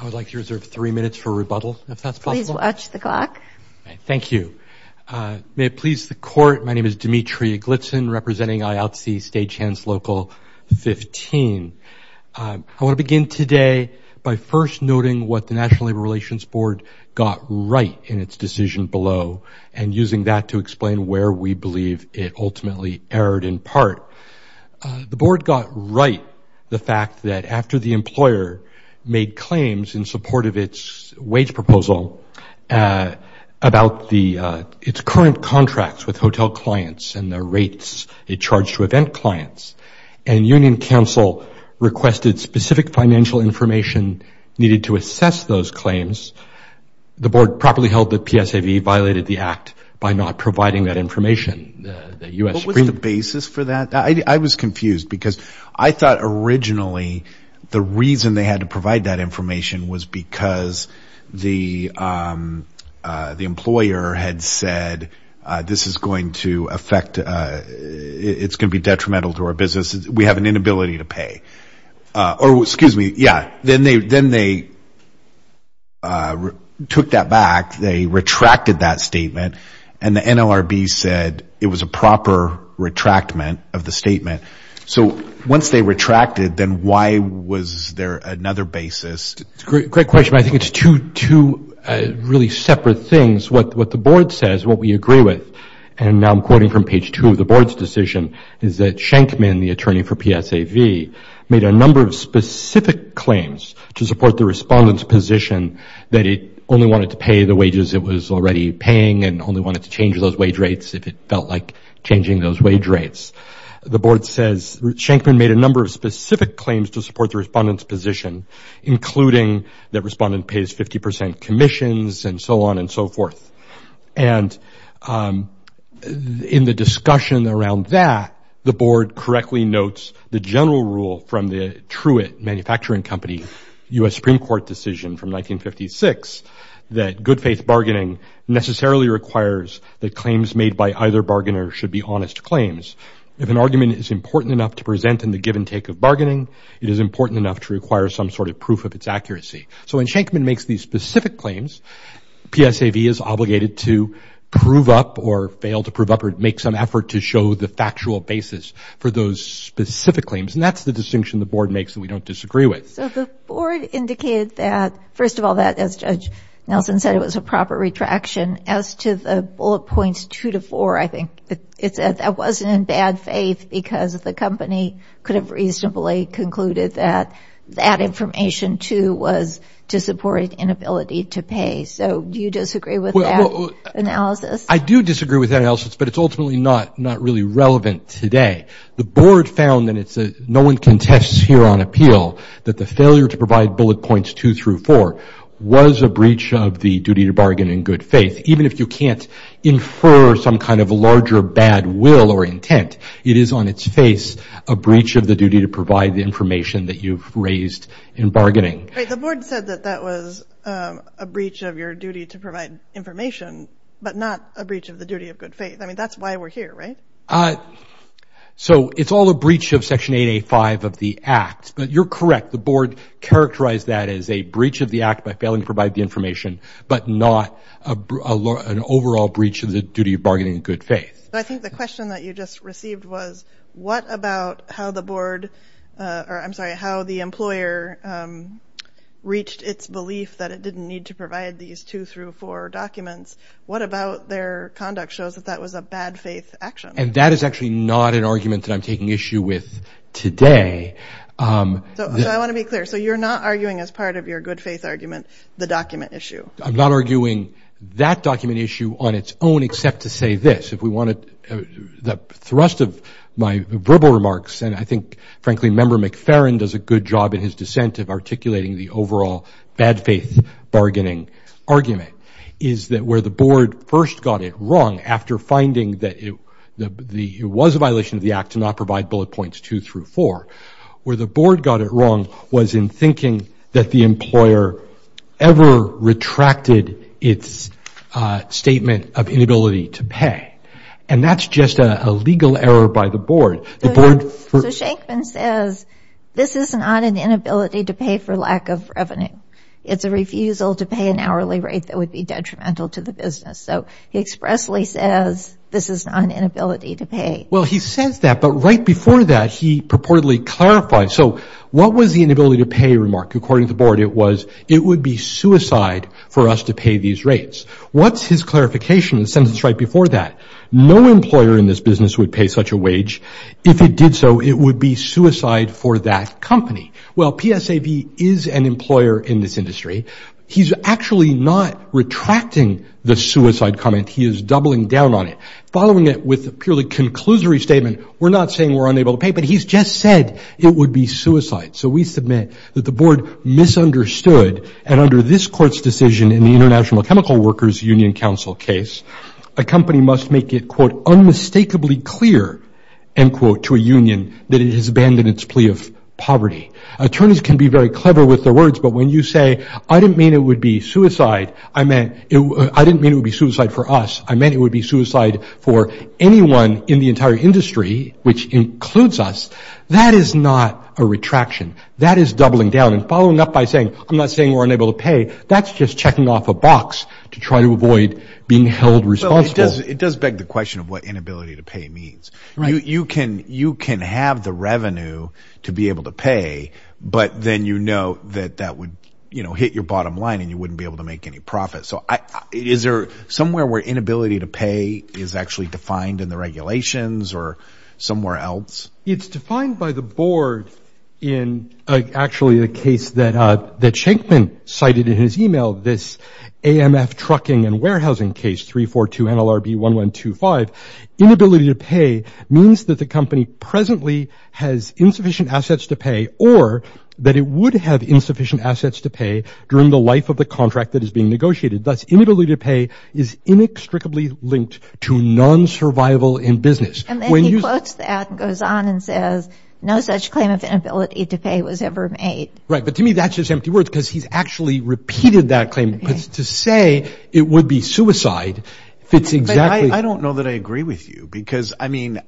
I would like to reserve three minutes for rebuttal, if that's possible. Please watch the clock. Thank you. May it please the Court, my name is Dimitri Eglitsen, representing IATSE State Chance Local 15. I want to begin today by first noting what the National Labor Relations Board got right in its decision below, and using that to explain where we believe it ultimately erred in part. The Board got right the fact that after the employer made claims in support of its wage proposal about its current contracts with hotel clients and the rates it charged to event clients, and Union Council requested specific financial information needed to assess those claims, the Board properly held that PSAV violated the Act by not providing that information. What was the basis for that? I was confused, because I thought originally the reason they had to provide that information was because the employer had said this is going to affect, it's going to be detrimental to our business, we have an inability to pay. Or, excuse me, yeah, then they took that back, they retracted that statement, and the NLRB said it was a proper retractment of the statement. So once they retracted, then why was there another basis? Great question. I think it's two really separate things. What the Board says, what we agree with, and now I'm quoting from page two of the Board's decision, is that Schenkman, the attorney for PSAV, made a number of specific claims to support the respondent's position that it only wanted to pay the wages it was already paying and only wanted to change those wage rates if it felt like changing those wage rates. The Board says, Schenkman made a number of specific claims to support the respondent's position, including that respondent pays 50% commissions and so on and so forth. And in the discussion around that, the Board correctly notes the general rule from the Truett Manufacturing Company U.S. Supreme Court decision from 1956 that good faith bargaining necessarily requires that claims made by either bargainer should be honest claims. If an argument is important enough to present in the give and take of bargaining, it is important enough to require some sort of proof of its accuracy. So when Schenkman makes these specific claims, PSAV is obligated to prove up or fail to prove up or make some effort to show the factual basis for those specific claims. And that's the distinction the Board makes that we don't disagree with. So the Board indicated that, first of all, that, as Judge Nelson said, it was a proper retraction. As to the bullet points two to four, I think it said that wasn't in bad faith because the company could have reasonably concluded that that information, too, was to support an inability to pay. So do you disagree with that analysis? I do disagree with that analysis, but it's ultimately not really relevant today. The Board found, and no one contests here on appeal, that the failure to provide bullet points two through four was a breach of the duty to bargain in good faith. Even if you can't infer some kind of larger bad will or intent, it is on its face a breach of the duty to provide the information that you've raised in bargaining. Right. The Board said that that was a breach of your duty to provide information, but not a breach of the duty of good faith. I mean, that's why we're here, right? So it's all a breach of Section 8A.5 of the Act, but you're correct. The Board characterized that as a breach of the Act by failing to provide the information, but not an overall breach of the duty of bargaining in good faith. But I think the question that you just received was, what about how the Board, or I'm sorry, how the employer reached its belief that it didn't need to provide these two through four documents? What about their conduct shows that that was a bad faith action? And that is actually not an argument that I'm taking issue with today. So I want to be clear. So you're not arguing as part of your good faith argument the document issue? I'm not arguing that document issue on its own except to say this. If we want to, the thrust of my verbal remarks, and I think frankly Member McFerrin does a good job in his dissent of articulating the overall bad faith bargaining argument, is that where the Board first got it wrong after finding that it was a violation of the Act to not provide bullet points two through four, where the Board got it wrong was in thinking that the employer ever retracted its statement of inability to pay. And that's just a legal error by the Board. So Shenkman says this is not an inability to pay for lack of revenue. It's a refusal to pay an hourly rate that would be detrimental to the business. So he expressly says this is not an inability to pay. Well, he says that, but right before that he purportedly clarified. So what was the inability to pay remark? According to the Board, it was it would be suicide for us to pay these rates. What's his clarification in the sentence right before that? No employer in this business would pay such a wage. If it did so, it would be suicide for that company. Well, PSAB is an employer in this industry. He's actually not retracting the suicide comment. He is doubling down on it. Following it with a purely conclusory statement, we're not saying we're unable to pay, but he's just said it would be suicide. So we submit that the Board misunderstood, and under this Court's decision in the International Chemical Workers Union Council case, a company must make it, quote, Attorneys can be very clever with their words, but when you say, I didn't mean it would be suicide, I meant it would be suicide for us, I meant it would be suicide for anyone in the entire industry, which includes us, that is not a retraction. That is doubling down. And following up by saying, I'm not saying we're unable to pay, that's just checking off a box to try to avoid being held responsible. It does beg the question of what inability to pay means. You can have the revenue to be able to pay, but then you know that that would hit your bottom line and you wouldn't be able to make any profit. So is there somewhere where inability to pay is actually defined in the regulations or somewhere else? It's defined by the Board in actually a case that Shankman cited in his email, this AMF trucking and warehousing case, 342 NLRB 1125. Inability to pay means that the company presently has insufficient assets to pay or that it would have insufficient assets to pay during the life of the contract that is being negotiated. Thus, inability to pay is inextricably linked to non-survival in business. And then he quotes that and goes on and says, no such claim of inability to pay was ever made. Right, but to me that's just empty words because he's actually repeated that claim. To say it would be suicide fits exactly. I don't know that I agree with you because, I mean,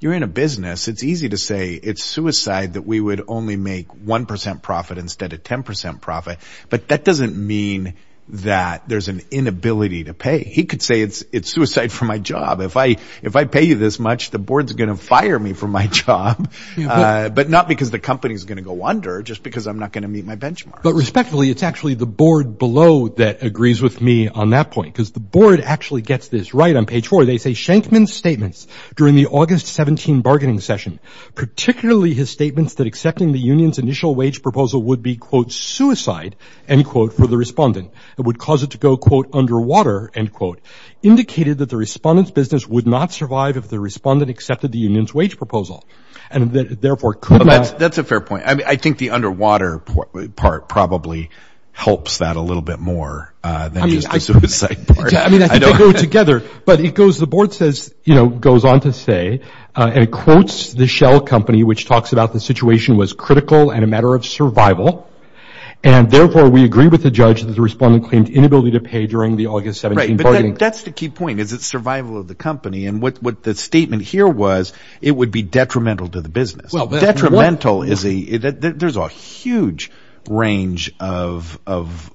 you're in a business. It's easy to say it's suicide that we would only make 1% profit instead of 10% profit, but that doesn't mean that there's an inability to pay. He could say it's suicide for my job. If I pay you this much, the Board's going to fire me for my job, but not because the company's going to go under, just because I'm not going to meet my benchmark. But respectfully, it's actually the Board below that agrees with me on that point because the Board actually gets this right on page 4. They say, Shankman's statements during the August 17 bargaining session, particularly his statements that accepting the union's initial wage proposal would be, quote, suicide, end quote, for the respondent. It would cause it to go, quote, underwater, end quote, indicated that the respondent's business would not survive if the respondent accepted the union's wage proposal and therefore could not. That's a fair point. I mean, I think the underwater part probably helps that a little bit more than just the suicide part. I mean, I think they go together. But it goes, the Board says, you know, goes on to say, and it quotes the Shell Company, which talks about the situation was critical and a matter of survival, and therefore we agree with the judge that the respondent claimed inability to pay during the August 17 bargaining session. Right, but that's the key point, is it's survival of the company. And what the statement here was, it would be detrimental to the business. Detrimental is a, there's a huge range of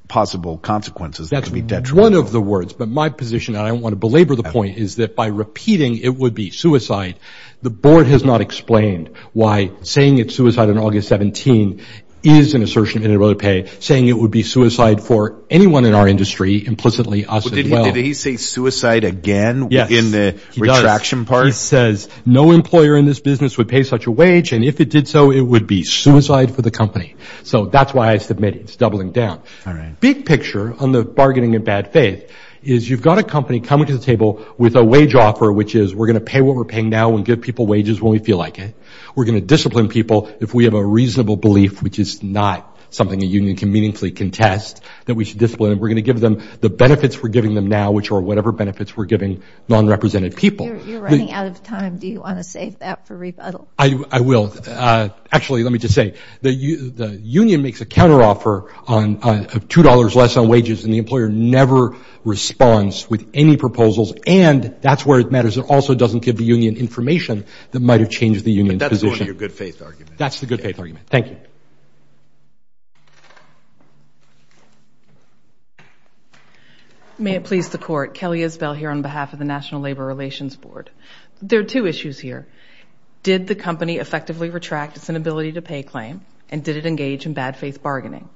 possible consequences that could be detrimental. That's one of the words. But my position, and I don't want to belabor the point, is that by repeating it would be suicide, the Board has not explained why saying it's suicide on August 17 is an assertion of inability to pay, saying it would be suicide for anyone in our industry, implicitly us as well. Did he say suicide again in the retraction part? The Board says no employer in this business would pay such a wage, and if it did so, it would be suicide for the company. So that's why I submit it's doubling down. All right. Big picture on the bargaining in bad faith is you've got a company coming to the table with a wage offer, which is we're going to pay what we're paying now and give people wages when we feel like it. We're going to discipline people if we have a reasonable belief, which is not something a union can meaningfully contest, that we should discipline them. We're going to give them the benefits we're giving them now, which are whatever benefits we're giving non-represented people. You're running out of time. Do you want to save that for rebuttal? I will. Actually, let me just say, the union makes a counteroffer of $2 less on wages, and the employer never responds with any proposals, and that's where it matters. It also doesn't give the union information that might have changed the union's position. But that's one of your good faith arguments. Thank you. May it please the Court. Kelly Isbell here on behalf of the National Labor Relations Board. There are two issues here. Did the company effectively retract its inability to pay claim, and did it engage in bad faith bargaining?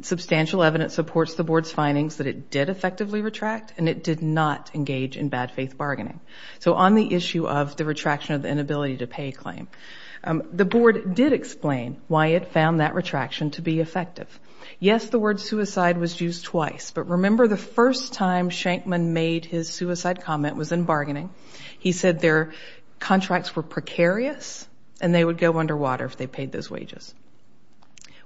Substantial evidence supports the Board's findings that it did effectively retract, and it did not engage in bad faith bargaining. So on the issue of the retraction of the inability to pay claim, the Board did explain why it found that retraction to be effective. Yes, the word suicide was used twice, but remember the first time Shankman made his suicide comment was in bargaining. He said their contracts were precarious, and they would go underwater if they paid those wages.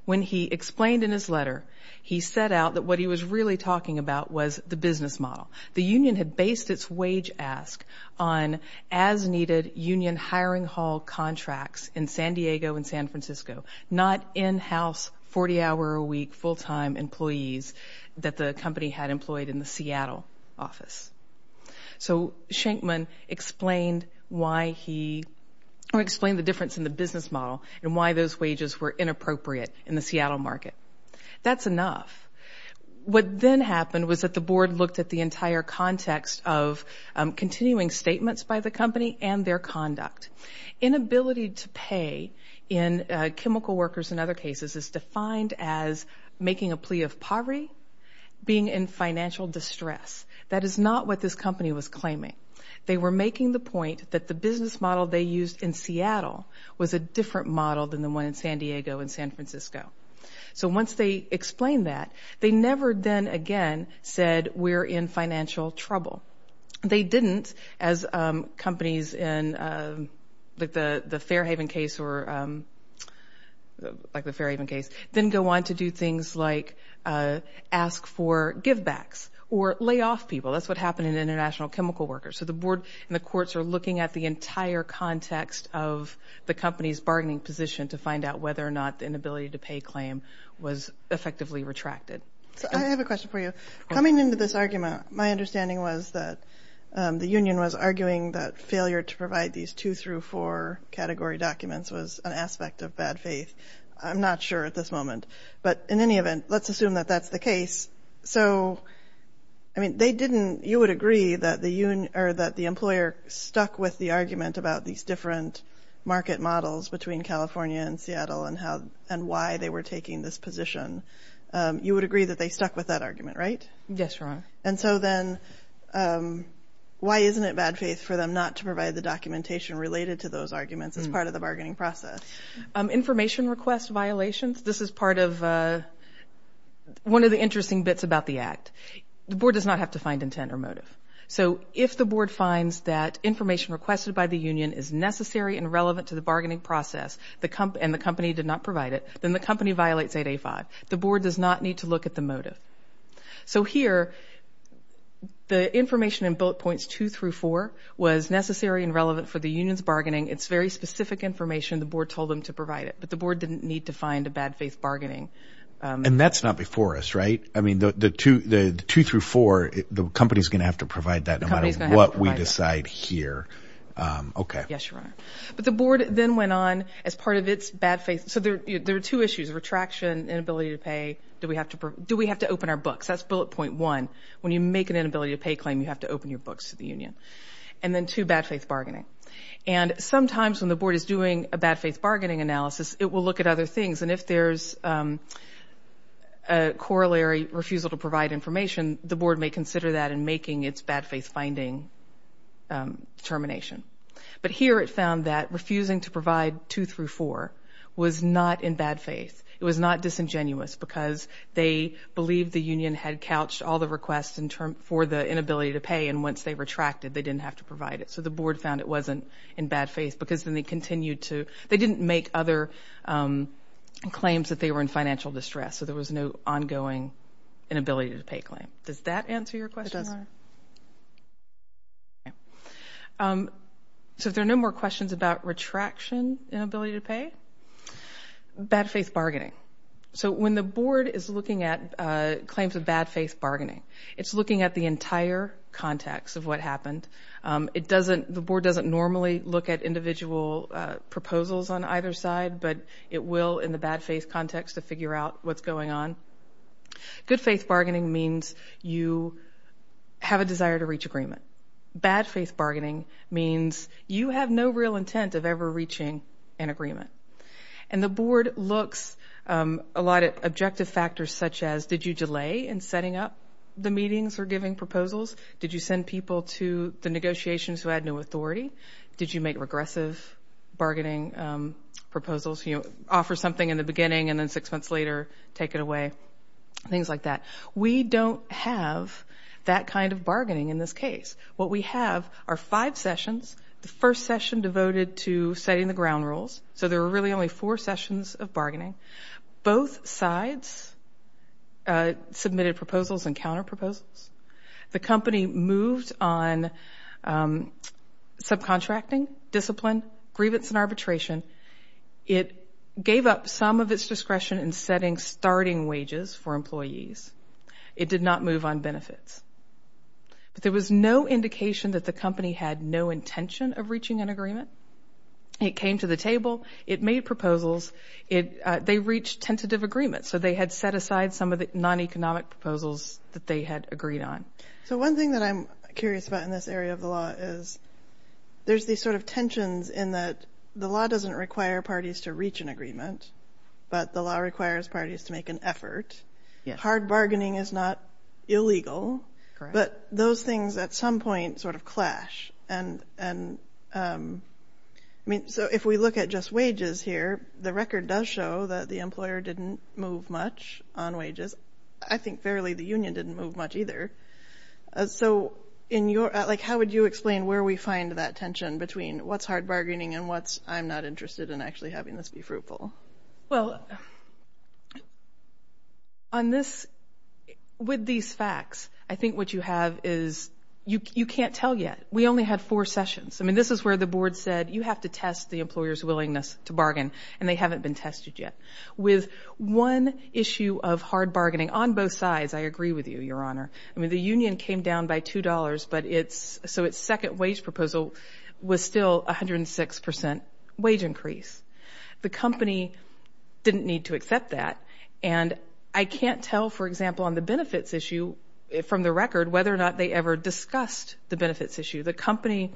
When he explained in his letter, he set out that what he was really talking about was the business model. The union had based its wage ask on as-needed union hiring hall contracts in San Diego and San Francisco, not in-house 40-hour-a-week full-time employees that the company had employed in the Seattle office. So Shankman explained the difference in the business model and why those wages were inappropriate in the Seattle market. That's enough. What then happened was that the Board looked at the entire context of continuing statements by the company and their conduct. Inability to pay in chemical workers in other cases is defined as making a plea of poverty, being in financial distress. That is not what this company was claiming. They were making the point that the business model they used in Seattle was a different model than the one in San Diego and San Francisco. So once they explained that, they never then again said we're in financial trouble. They didn't, as companies in the Fairhaven case, didn't go on to do things like ask for give-backs or lay off people. That's what happened in international chemical workers. So the Board and the courts are looking at the entire context of the company's bargaining position to find out whether or not the inability to pay claim was effectively retracted. I have a question for you. Coming into this argument, my understanding was that the union was arguing that failure to provide these two through four category documents was an aspect of bad faith. I'm not sure at this moment. But in any event, let's assume that that's the case. So, I mean, they didn't, you would agree that the employer stuck with the argument about these different market models between California and Seattle and why they were taking this position. You would agree that they stuck with that argument, right? Yes, Your Honor. And so then why isn't it bad faith for them not to provide the documentation related to those arguments as part of the bargaining process? Information request violations. This is part of one of the interesting bits about the Act. The Board does not have to find intent or motive. So if the Board finds that information requested by the union is necessary and relevant to the bargaining process and the company did not provide it, then the company violates 8A5. The Board does not need to look at the motive. So here, the information in bullet points two through four was necessary and relevant for the union's bargaining. It's very specific information. The Board told them to provide it, but the Board didn't need to find a bad faith bargaining. And that's not before us, right? I mean, the two through four, the company's going to have to provide that no matter what we decide here. Okay. Yes, Your Honor. But the Board then went on as part of its bad faith. So there are two issues, retraction, inability to pay. Do we have to open our books? That's bullet point one. When you make an inability to pay claim, you have to open your books to the union. And then two, bad faith bargaining. And sometimes when the Board is doing a bad faith bargaining analysis, it will look at other things. And if there's a corollary refusal to provide information, the Board may consider that in making its bad faith finding termination. But here it found that refusing to provide two through four was not in bad faith. It was not disingenuous because they believed the union had couched all the requests for the inability to pay, and once they retracted, they didn't have to provide it. So the Board found it wasn't in bad faith because then they continued to – they didn't make other claims that they were in financial distress, so there was no ongoing inability to pay claim. Does that answer your question, Your Honor? It does. Okay. So if there are no more questions about retraction, inability to pay. Bad faith bargaining. So when the Board is looking at claims of bad faith bargaining, it's looking at the entire context of what happened. The Board doesn't normally look at individual proposals on either side, but it will in the bad faith context to figure out what's going on. Good faith bargaining means you have a desire to reach agreement. Bad faith bargaining means you have no real intent of ever reaching an agreement. And the Board looks a lot at objective factors such as, did you delay in setting up the meetings or giving proposals? Did you send people to the negotiations who had no authority? Did you make regressive bargaining proposals, offer something in the beginning and then six months later take it away? Things like that. We don't have that kind of bargaining in this case. What we have are five sessions. The first session devoted to setting the ground rules, so there were really only four sessions of bargaining. Both sides submitted proposals and counterproposals. The company moved on subcontracting, discipline, grievance and arbitration. It gave up some of its discretion in setting starting wages for employees. It did not move on benefits. But there was no indication that the company had no intention of reaching an agreement. It came to the table. It made proposals. They reached tentative agreements, so they had set aside some of the non-economic proposals that they had agreed on. So one thing that I'm curious about in this area of the law is there's these sort of tensions in that the law doesn't require parties to reach an agreement, but the law requires parties to make an effort. Hard bargaining is not illegal, but those things at some point sort of clash. If we look at just wages here, the record does show that the employer didn't move much on wages. I think fairly the union didn't move much either. So how would you explain where we find that tension between what's hard bargaining and what's I'm not interested in actually having this be fruitful? Well, with these facts, I think what you have is you can't tell yet. We only had four sessions. I mean, this is where the board said you have to test the employer's willingness to bargain, and they haven't been tested yet. With one issue of hard bargaining on both sides, I agree with you, Your Honor. I mean, the union came down by $2, so its second wage proposal was still 106 percent wage increase. The company didn't need to accept that, and I can't tell, for example, on the benefits issue from the record whether or not they ever discussed the benefits issue. The company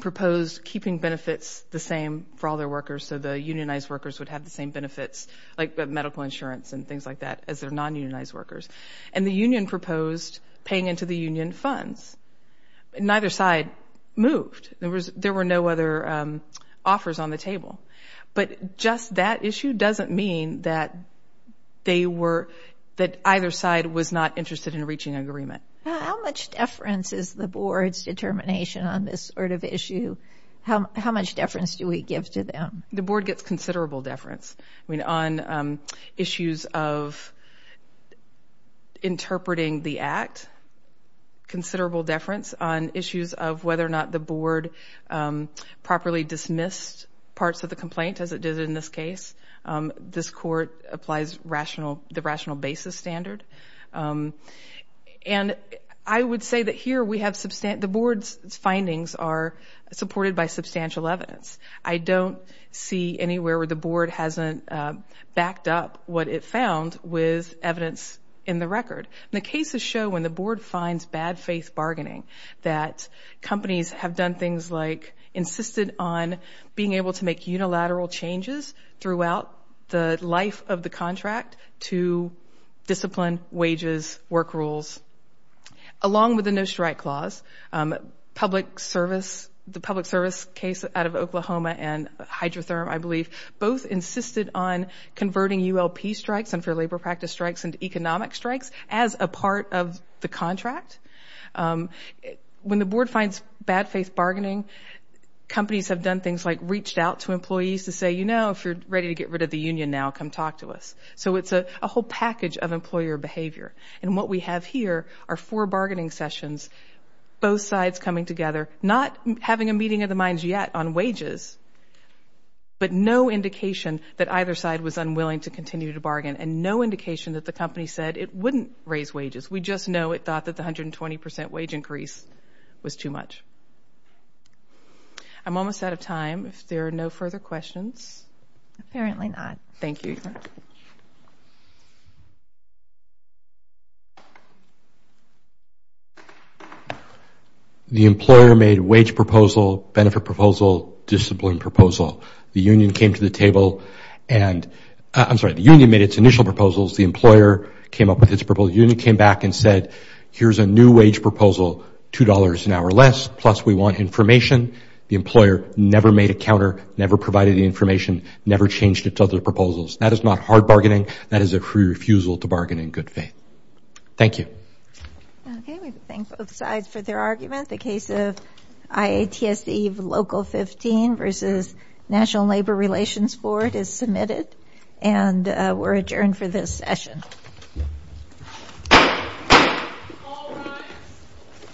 proposed keeping benefits the same for all their workers so the unionized workers would have the same benefits like medical insurance and things like that as their non-unionized workers. And the union proposed paying into the union funds. Neither side moved. There were no other offers on the table. But just that issue doesn't mean that either side was not interested in reaching agreement. How much deference is the board's determination on this sort of issue? How much deference do we give to them? The board gets considerable deference. I mean, on issues of interpreting the act, considerable deference on issues of whether or not the board properly dismissed parts of the complaint, as it did in this case. This court applies the rational basis standard. And I would say that here we have substantial – the board's findings are supported by substantial evidence. I don't see anywhere where the board hasn't backed up what it found with evidence in the record. The cases show when the board finds bad-faith bargaining that companies have done things like insisted on being able to make unilateral changes throughout the life of the contract to discipline, wages, work rules, along with the no-strike clause. Public service – the public service case out of Oklahoma and HydroTherm, I believe, both insisted on converting ULP strikes and for labor practice strikes into economic strikes as a part of the contract. When the board finds bad-faith bargaining, companies have done things like reached out to employees to say, you know, if you're ready to get rid of the union now, come talk to us. So it's a whole package of employer behavior. And what we have here are four bargaining sessions, both sides coming together, not having a meeting of the minds yet on wages, but no indication that either side was unwilling to continue to bargain and no indication that the company said it wouldn't raise wages. We just know it thought that the 120 percent wage increase was too much. I'm almost out of time if there are no further questions. Apparently not. Thank you. The employer made wage proposal, benefit proposal, discipline proposal. The union came to the table and – I'm sorry, the union made its initial proposals. The employer came up with its proposal. The union came back and said, here's a new wage proposal, $2 an hour less, plus we want information. The employer never made a counter, never provided the information, never changed its other proposals. That is not hard bargaining. That is a refusal to bargain in good faith. Thank you. Okay, we thank both sides for their argument. The case of IATSD Local 15 versus National Labor Relations Board is submitted and we're adjourned for this session.